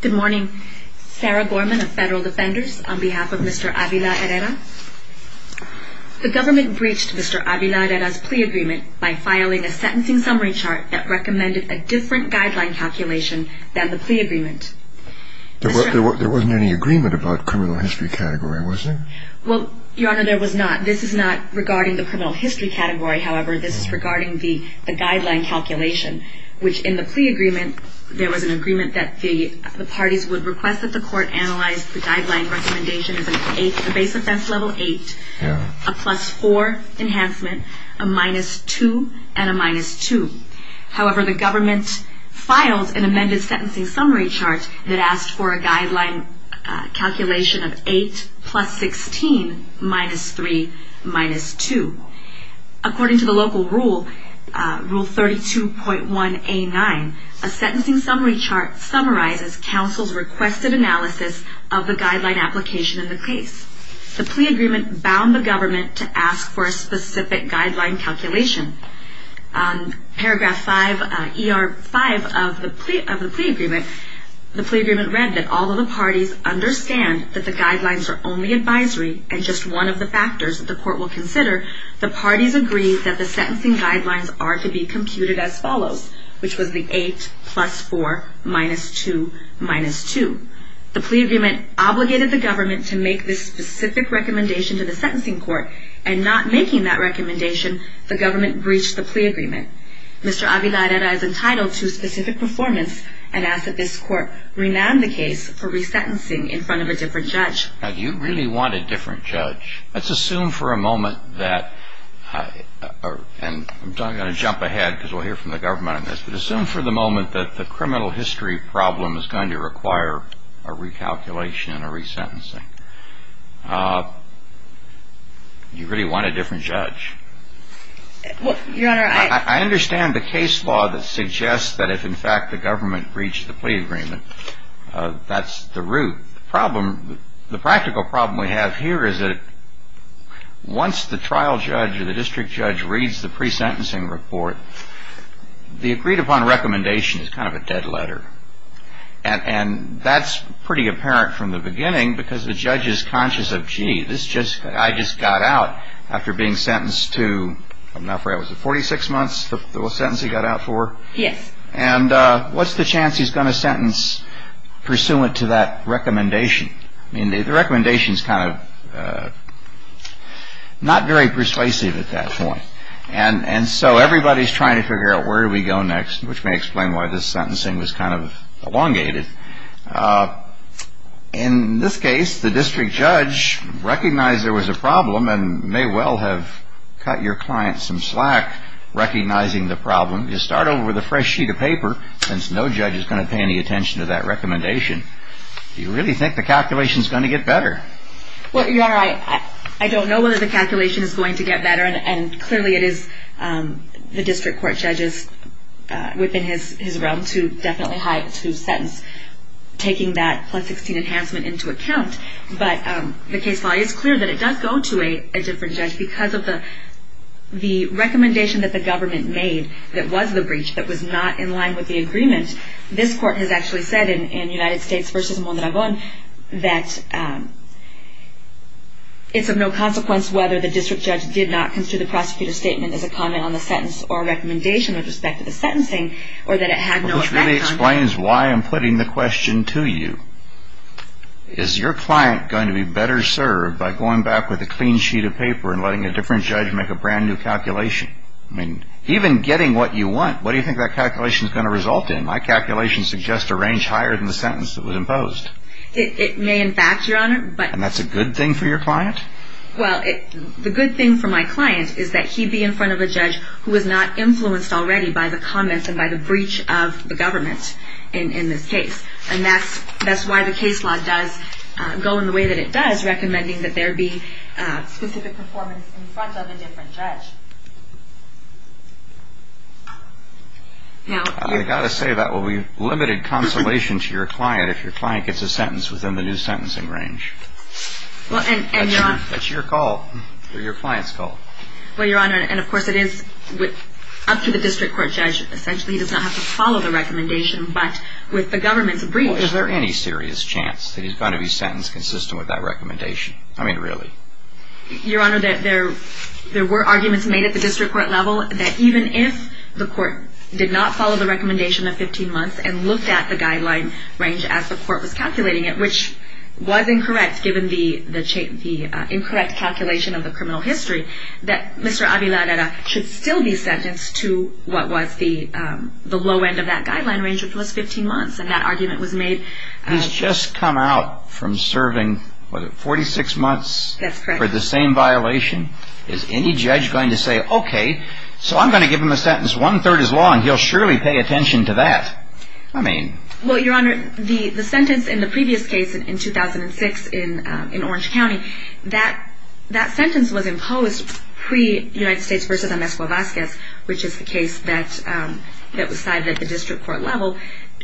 Good morning. Sarah Gorman of Federal Defenders on behalf of Mr. Avila Herrera. The government breached Mr. Avila Herrera's plea agreement by filing a sentencing summary chart that recommended a different guideline calculation than the plea agreement. There wasn't any agreement about criminal history category, was there? Well, Your Honor, there was not. This is not regarding the criminal history category, however. This is regarding the guideline calculation, which in the plea agreement, there was an agreement that the parties would request that the court analyze the guideline recommendation as a base offense level 8, a plus 4 enhancement, a minus 2, and a minus 2. However, the government filed an amended sentencing summary chart that asked for a guideline calculation of 8 plus 16 minus 3 minus 2. According to the local rule, Rule 32.1A9, a sentencing summary chart summarizes counsel's requested analysis of the guideline application in the case. The plea agreement bound the government to ask for a specific guideline calculation. Paragraph 5, ER 5 of the plea agreement, the plea agreement read that although the parties understand that the guidelines are only advisory and just one of the factors that the court will consider, the parties agree that the sentencing guidelines are to be computed as follows, which was the 8 plus 4 minus 2 minus 2. The plea agreement obligated the government to make this specific recommendation to the sentencing court, and not making that recommendation, the government breached the plea agreement. Mr. Avila Herrera is entitled to a specific performance and asks that this court rename the case for resentencing in front of a different judge. Now, do you really want a different judge? Let's assume for a moment that, and I'm going to jump ahead because we'll hear from the government on this, but assume for the moment that the criminal history problem is going to require a recalculation and a resentencing. Do you really want a different judge? Your Honor, I I understand the case law that suggests that if in fact the government breached the plea agreement, that's the root. The problem, the practical problem we have here is that once the trial judge or the district judge reads the pre-sentencing report, the agreed upon recommendation is kind of a dead letter. And that's pretty apparent from the beginning because the judge is conscious of, gee, this judge, I just got out after being sentenced to, I'm not sure, was it 46 months, the sentence he got out for? Yes. And what's the chance he's going to sentence pursuant to that recommendation? I mean, the recommendation is kind of not very persuasive at that point. And so everybody's trying to figure out where do we go next, which may explain why this sentencing was kind of elongated. In this case, the district judge recognized there was a problem and may well have cut your client some slack recognizing the problem. Just start over with a fresh sheet of paper since no judge is going to pay any attention to that recommendation. Do you really think the calculation is going to get better? Well, Your Honor, I don't know whether the calculation is going to get better. And clearly it is the district court judges within his realm to definitely have to sentence taking that plus 16 enhancement into account. But the case law is clear that it does go to a different judge because of the recommendation that the government made that was the breach that was not in line with the agreement. This court has actually said in United States v. Mondragon that it's of no consequence whether the district judge did not consider the prosecutor's statement as a comment on the sentence or a recommendation with respect to the sentencing or that it had no effect on him. Which really explains why I'm putting the question to you. Is your client going to be better served by going back with a clean sheet of paper and letting a different judge make a brand new calculation? I mean, even getting what you want, what do you think that calculation is going to result in? My calculation suggests a range higher than the sentence that was imposed. It may, in fact, Your Honor. And that's a good thing for your client? Well, the good thing for my client is that he'd be in front of a judge who was not influenced already by the comments and by the breach of the government in this case. And that's why the case law does go in the way that it does, which is recommending that there be specific performance in front of a different judge. I've got to say that will be limited consolation to your client if your client gets a sentence within the new sentencing range. That's your call or your client's call. Well, Your Honor, and of course it is up to the district court judge. Essentially, he does not have to follow the recommendation, but with the government's breach. Well, is there any serious chance that he's going to be sentenced consistent with that recommendation? I mean, really. Your Honor, there were arguments made at the district court level that even if the court did not follow the recommendation of 15 months and looked at the guideline range as the court was calculating it, which was incorrect given the incorrect calculation of the criminal history, that Mr. Aviladera should still be sentenced to what was the low end of that guideline range, which was 15 months, and that argument was made. He's just come out from serving, what, 46 months? That's correct. For the same violation? Is any judge going to say, okay, so I'm going to give him a sentence one-third his law and he'll surely pay attention to that? I mean. Well, Your Honor, the sentence in the previous case in 2006 in Orange County, that sentence was imposed pre-United States v. Amesco-Vasquez, which is the case that was cited at the district court level,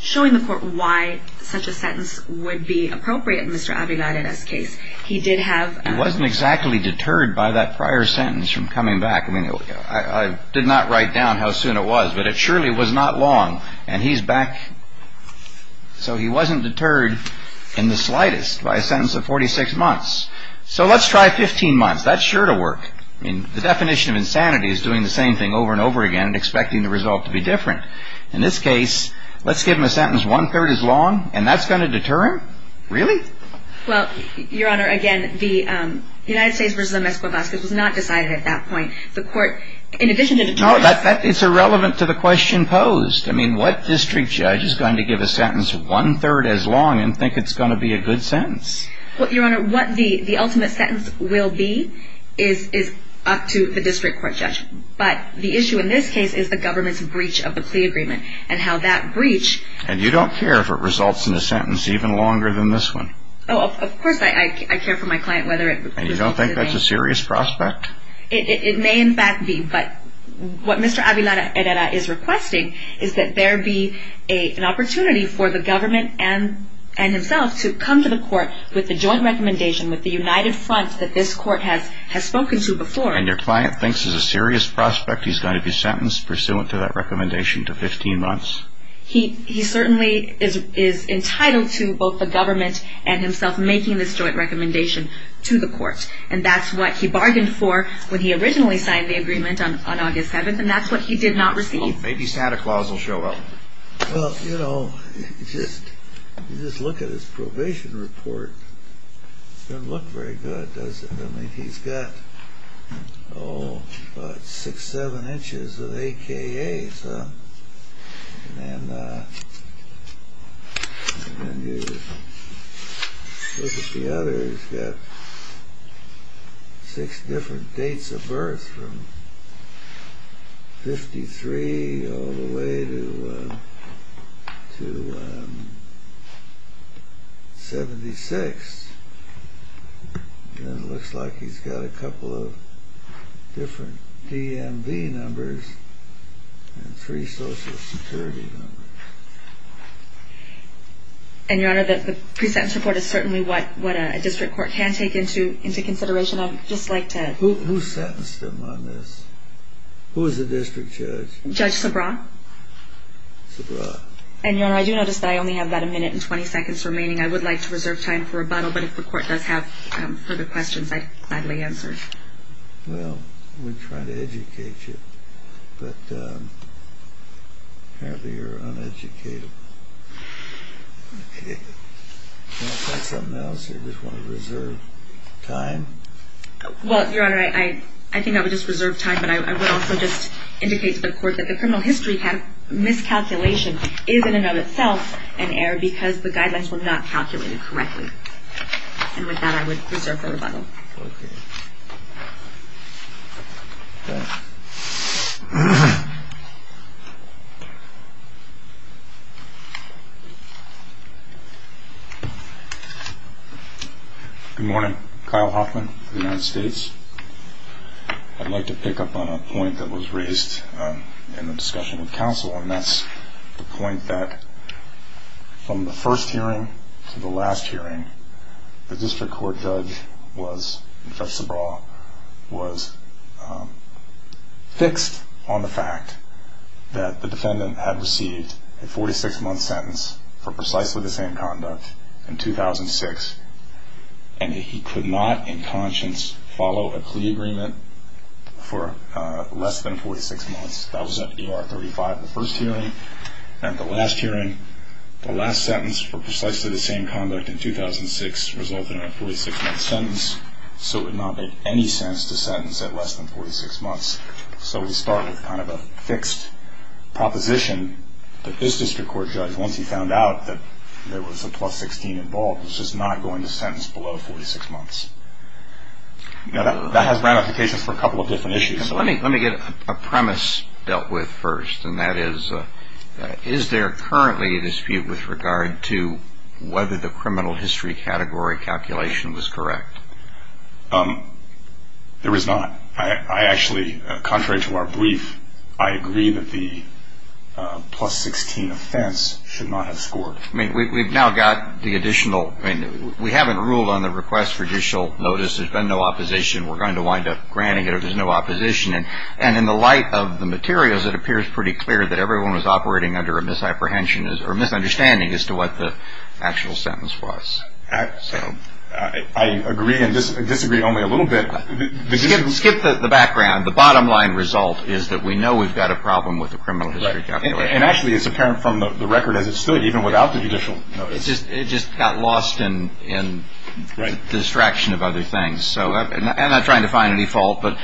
showing the court why such a sentence would be appropriate in Mr. Aviladera's case. He did have. He wasn't exactly deterred by that prior sentence from coming back. I mean, I did not write down how soon it was, but it surely was not long, and he's back. So he wasn't deterred in the slightest by a sentence of 46 months. So let's try 15 months. That's sure to work. I mean, the definition of insanity is doing the same thing over and over again and expecting the result to be different. In this case, let's give him a sentence one-third as long, and that's going to deter him? Really? Well, Your Honor, again, the United States v. Amesco-Vasquez was not decided at that point. The court, in addition to deterrence. No, it's irrelevant to the question posed. I mean, what district judge is going to give a sentence one-third as long and think it's going to be a good sentence? Well, Your Honor, what the ultimate sentence will be is up to the district court judge. But the issue in this case is the government's breach of the plea agreement and how that breach. And you don't care if it results in a sentence even longer than this one? Oh, of course I care for my client whether it results in the same. And you don't think that's a serious prospect? It may, in fact, be. But what Mr. Avilara Herrera is requesting is that there be an opportunity for the government and himself to come to the court with the joint recommendation, with the united front that this court has spoken to before. And your client thinks it's a serious prospect he's going to be sentenced pursuant to that recommendation to 15 months? He certainly is entitled to both the government and himself making this joint recommendation to the court. And that's what he bargained for when he originally signed the agreement on August 7th, and that's what he did not receive. Maybe Santa Claus will show up. Well, you know, just look at his probation report. It doesn't look very good, does it? I mean, he's got, oh, about six, seven inches of AKA. And then you look at the other. He's got six different dates of birth, from 53 all the way to 76. And it looks like he's got a couple of different DMV numbers and three social security numbers. And, Your Honor, the pre-sentence report is certainly what a district court can take into consideration. I would just like to... Who sentenced him on this? Who was the district judge? Judge Sabra. Sabra. And, Your Honor, I do notice that I only have about a minute and 20 seconds remaining. I would like to reserve time for rebuttal, but if the court does have further questions, I'd gladly answer. Well, we're trying to educate you, but apparently you're uneducated. Can I say something else? You just want to reserve time? Well, Your Honor, I think I would just reserve time, but I would also just indicate to the court that the criminal history miscalculation is in and of itself an error that was not calculated correctly. And with that, I would reserve for rebuttal. Okay. Good morning. Kyle Hoffman, United States. I'd like to pick up on a point that was raised in the discussion with counsel, and that's the point that from the first hearing to the last hearing, the district court judge was, in fact, Sabra, was fixed on the fact that the defendant had received a 46-month sentence for precisely the same conduct in 2006, and he could not in conscience follow a plea agreement for less than 46 months. That was at E.R. 35, the first hearing. And at the last hearing, the last sentence for precisely the same conduct in 2006 resulted in a 46-month sentence, so it would not make any sense to sentence at less than 46 months. So we start with kind of a fixed proposition that this district court judge, once he found out that there was a plus 16 involved, was just not going to sentence below 46 months. Now, that has ramifications for a couple of different issues. Let me get a premise dealt with first, and that is, is there currently a dispute with regard to whether the criminal history category calculation was correct? There is not. I actually, contrary to our brief, I agree that the plus 16 offense should not have scored. I mean, we've now got the additional. I mean, we haven't ruled on the request for judicial notice. There's been no opposition. We're going to wind up granting it if there's no opposition. And in the light of the materials, it appears pretty clear that everyone was operating under a misapprehension or misunderstanding as to what the actual sentence was. So I agree and disagree only a little bit. Skip the background. The bottom line result is that we know we've got a problem with the criminal history calculation. And actually, it's apparent from the record as it stood, even without the judicial notice. It just got lost in the distraction of other things. So I'm not trying to find any fault. But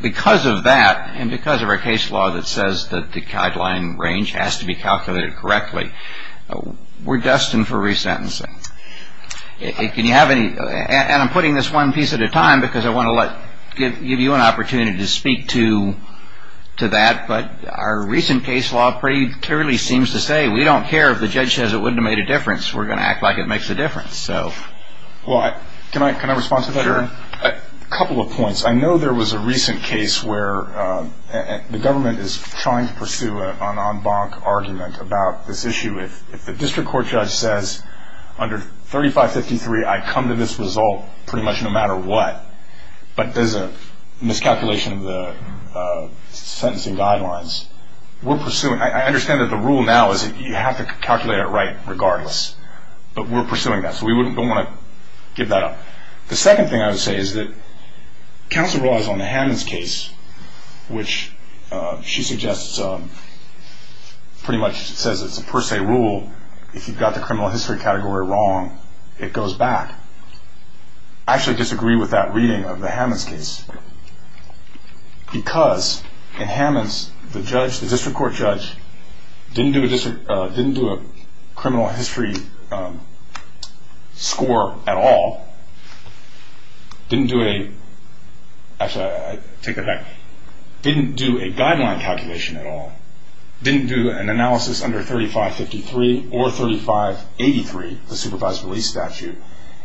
because of that and because of our case law that says that the guideline range has to be calculated correctly, we're destined for resentencing. Can you have any? And I'm putting this one piece at a time because I want to give you an opportunity to speak to that. But our recent case law pretty clearly seems to say we don't care if the judge says it wouldn't have made a difference. We're going to act like it makes a difference. Well, can I respond to that? A couple of points. I know there was a recent case where the government is trying to pursue an en banc argument about this issue. If the district court judge says under 3553 I come to this result pretty much no matter what, but there's a miscalculation of the sentencing guidelines, we're pursuing. I understand that the rule now is that you have to calculate it right regardless. But we're pursuing that. So we don't want to give that up. The second thing I would say is that counsel relies on the Hammonds case, which she suggests pretty much says it's a per se rule. If you've got the criminal history category wrong, it goes back. I actually disagree with that reading of the Hammonds case because in Hammonds, the district court judge didn't do a criminal history score at all, didn't do a guideline calculation at all, didn't do an analysis under 3553 or 3583, the supervised release statute,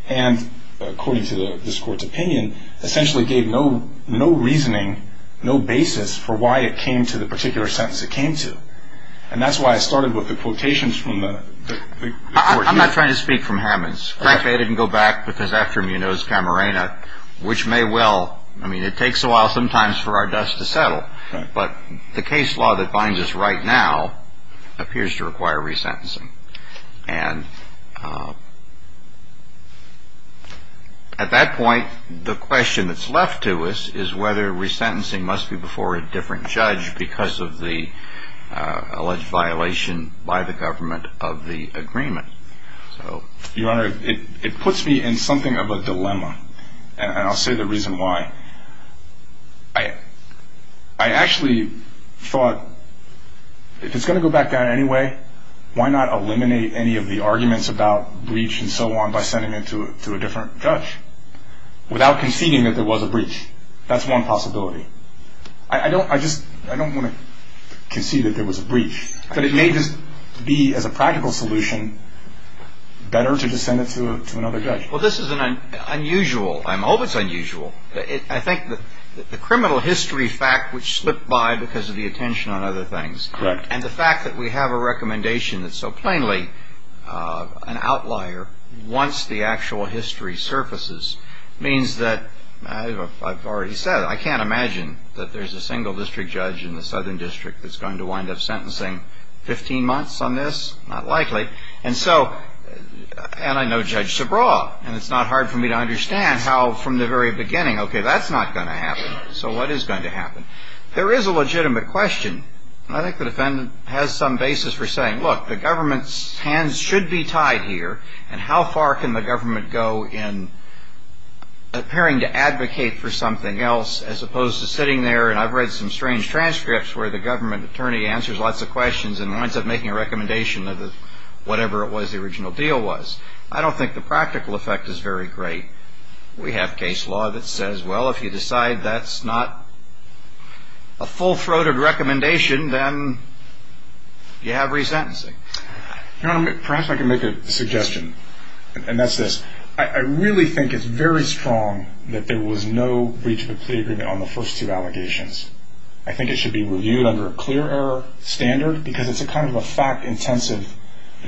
and according to this court's opinion, essentially gave no reasoning, no basis for why it came to the particular sentence it came to. And that's why I started with the quotations from the court. I'm not trying to speak from Hammonds. Frankly, I didn't go back because after him you know it's Camarena, which may well, I mean, it takes a while sometimes for our dust to settle. But the case law that binds us right now appears to require resentencing. And at that point, the question that's left to us is whether resentencing must be before a different judge because of the alleged violation by the government of the agreement. So, Your Honor, it puts me in something of a dilemma. And I'll say the reason why. I actually thought if it's going to go back down anyway, why not eliminate any of the arguments about breach and so on by sending it to a different judge without conceding that there was a breach? That's one possibility. I don't want to concede that there was a breach, but it may just be as a practical solution better to just send it to another judge. Well, this is unusual. I hope it's unusual. I think the criminal history fact which slipped by because of the attention on other things. Correct. And the fact that we have a recommendation that's so plainly an outlier once the actual history surfaces means that, as I've already said, I can't imagine that there's a single district judge in the Southern District that's going to wind up sentencing 15 months on this. Not likely. And so, and I know Judge Subraw, and it's not hard for me to understand how from the very beginning, okay, that's not going to happen. So what is going to happen? There is a legitimate question. I think the defendant has some basis for saying, look, the government's hands should be tied here, and how far can the government go in appearing to advocate for something else as opposed to sitting there, and I've read some strange transcripts where the government attorney answers lots of questions and winds up making a recommendation of whatever it was the original deal was. I don't think the practical effect is very great. We have case law that says, well, if you decide that's not a full-throated recommendation, then you have resentencing. Your Honor, perhaps I can make a suggestion, and that's this. I really think it's very strong that there was no breach of a plea agreement on the first two allegations. I think it should be reviewed under a clear error standard because it's kind of a fact-intensive,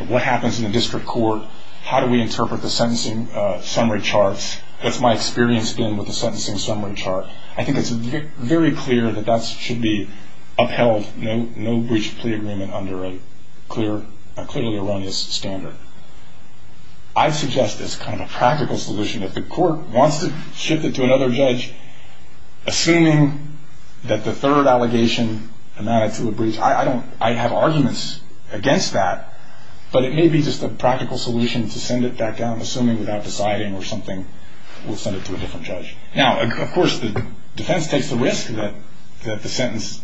what happens in the district court, how do we interpret the sentencing summary charts. That's my experience, again, with the sentencing summary chart. I think it's very clear that that should be upheld, no breach of plea agreement under a clearly erroneous standard. I suggest it's kind of a practical solution. If the court wants to shift it to another judge, assuming that the third allegation amounted to a breach, I have arguments against that, but it may be just a practical solution to send it back down, assuming without deciding or something, we'll send it to a different judge. Now, of course, the defense takes the risk that the sentence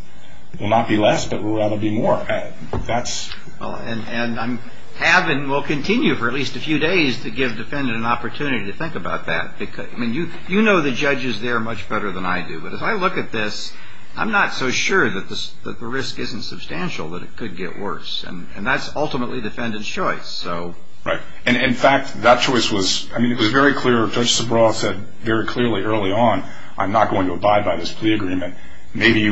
will not be less but will rather be more. And I have and will continue for at least a few days to give the defendant an opportunity to think about that. You know the judges there much better than I do, but if I look at this, I'm not so sure that the risk isn't substantial that it could get worse, and that's ultimately the defendant's choice. Right. In fact, that choice was very clear. Judge Subraw said very clearly early on, I'm not going to abide by this plea agreement. Maybe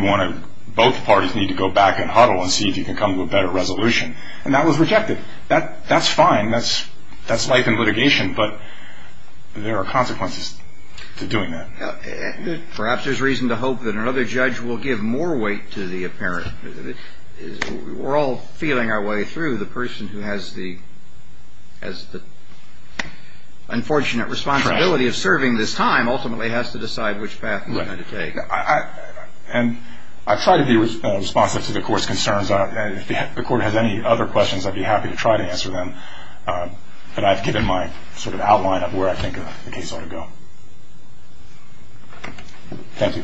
both parties need to go back and huddle and see if you can come to a better resolution. And that was rejected. That's fine. That's life in litigation, but there are consequences to doing that. Perhaps there's reason to hope that another judge will give more weight to the apparent. We're all feeling our way through. The person who has the unfortunate responsibility of serving this time ultimately has to decide which path we're going to take. And I try to be responsive to the court's concerns. If the court has any other questions, I'd be happy to try to answer them. But I've given my sort of outline of where I think the case ought to go. Thank you.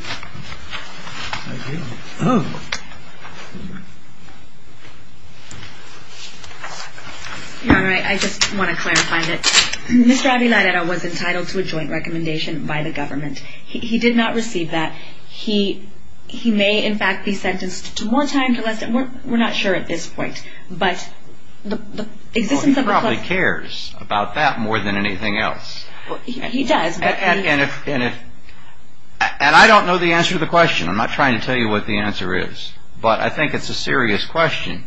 Your Honor, I just want to clarify that Mr. Aviladero was entitled to a joint recommendation by the government. He did not receive that. He may, in fact, be sentenced to more time for less time. We're not sure at this point. But the existence of the claimant... Well, he probably cares about that more than anything else. He does. And I don't know the answer to the question. I'm not trying to tell you what the answer is. But I think it's a serious question.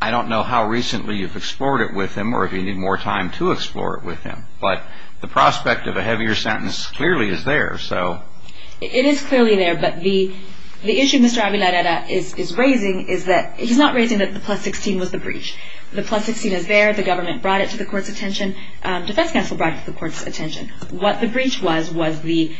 I don't know how recently you've explored it with him or if you need more time to explore it with him. But the prospect of a heavier sentence clearly is there, so... It is clearly there. But the issue Mr. Aviladero is raising is that he's not raising that the plus 16 was the breach. The plus 16 is there. The government brought it to the court's attention. Defense counsel brought it to the court's attention. What the breach was was the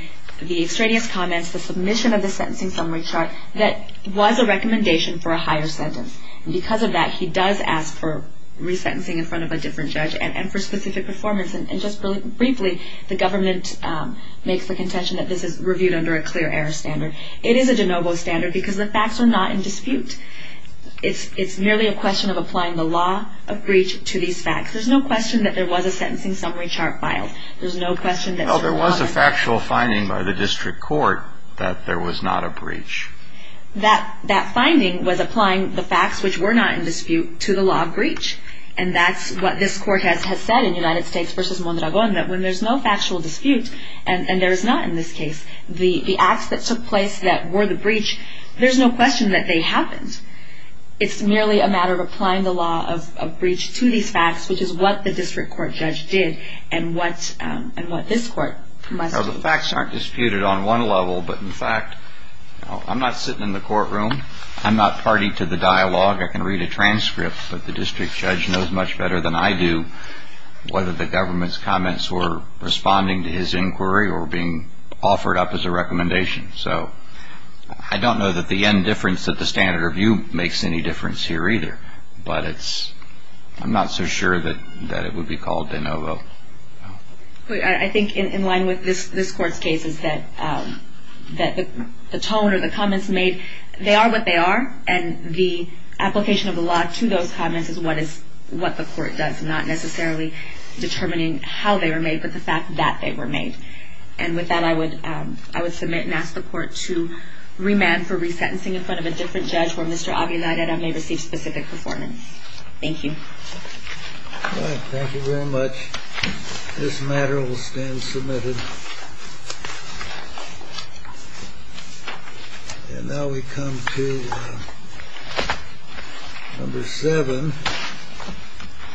extraneous comments, the submission of the sentencing summary chart, that was a recommendation for a higher sentence. And because of that, he does ask for resentencing in front of a different judge and for specific performance. And just briefly, the government makes the contention that this is reviewed under a clear error standard. It is a de novo standard because the facts are not in dispute. It's merely a question of applying the law of breach to these facts. There's no question that there was a sentencing summary chart filed. There's no question that the law... Well, there was a factual finding by the district court that there was not a breach. That finding was applying the facts, which were not in dispute, to the law of breach. And that's what this court has said in United States v. Mondragon, that when there's no factual dispute, and there is not in this case, the acts that took place that were the breach, there's no question that they happened. It's merely a matter of applying the law of breach to these facts, which is what the district court judge did and what this court must do. The facts aren't disputed on one level, but in fact, I'm not sitting in the courtroom. I'm not party to the dialogue. I can read a transcript, but the district judge knows much better than I do whether the government's comments were responding to his inquiry or being offered up as a recommendation. So I don't know that the indifference that the standard of view makes any difference here either, but I'm not so sure that it would be called de novo. I think in line with this court's case is that the tone or the comments made, they are what they are, and the application of the law to those comments is what the court does, not necessarily determining how they were made, but the fact that they were made. And with that, I would submit and ask the court to remand for resentencing in front of a different judge where Mr. Aguilar may receive specific performance. Thank you. Thank you very much. This matter will stand submitted. And now we come to number seven.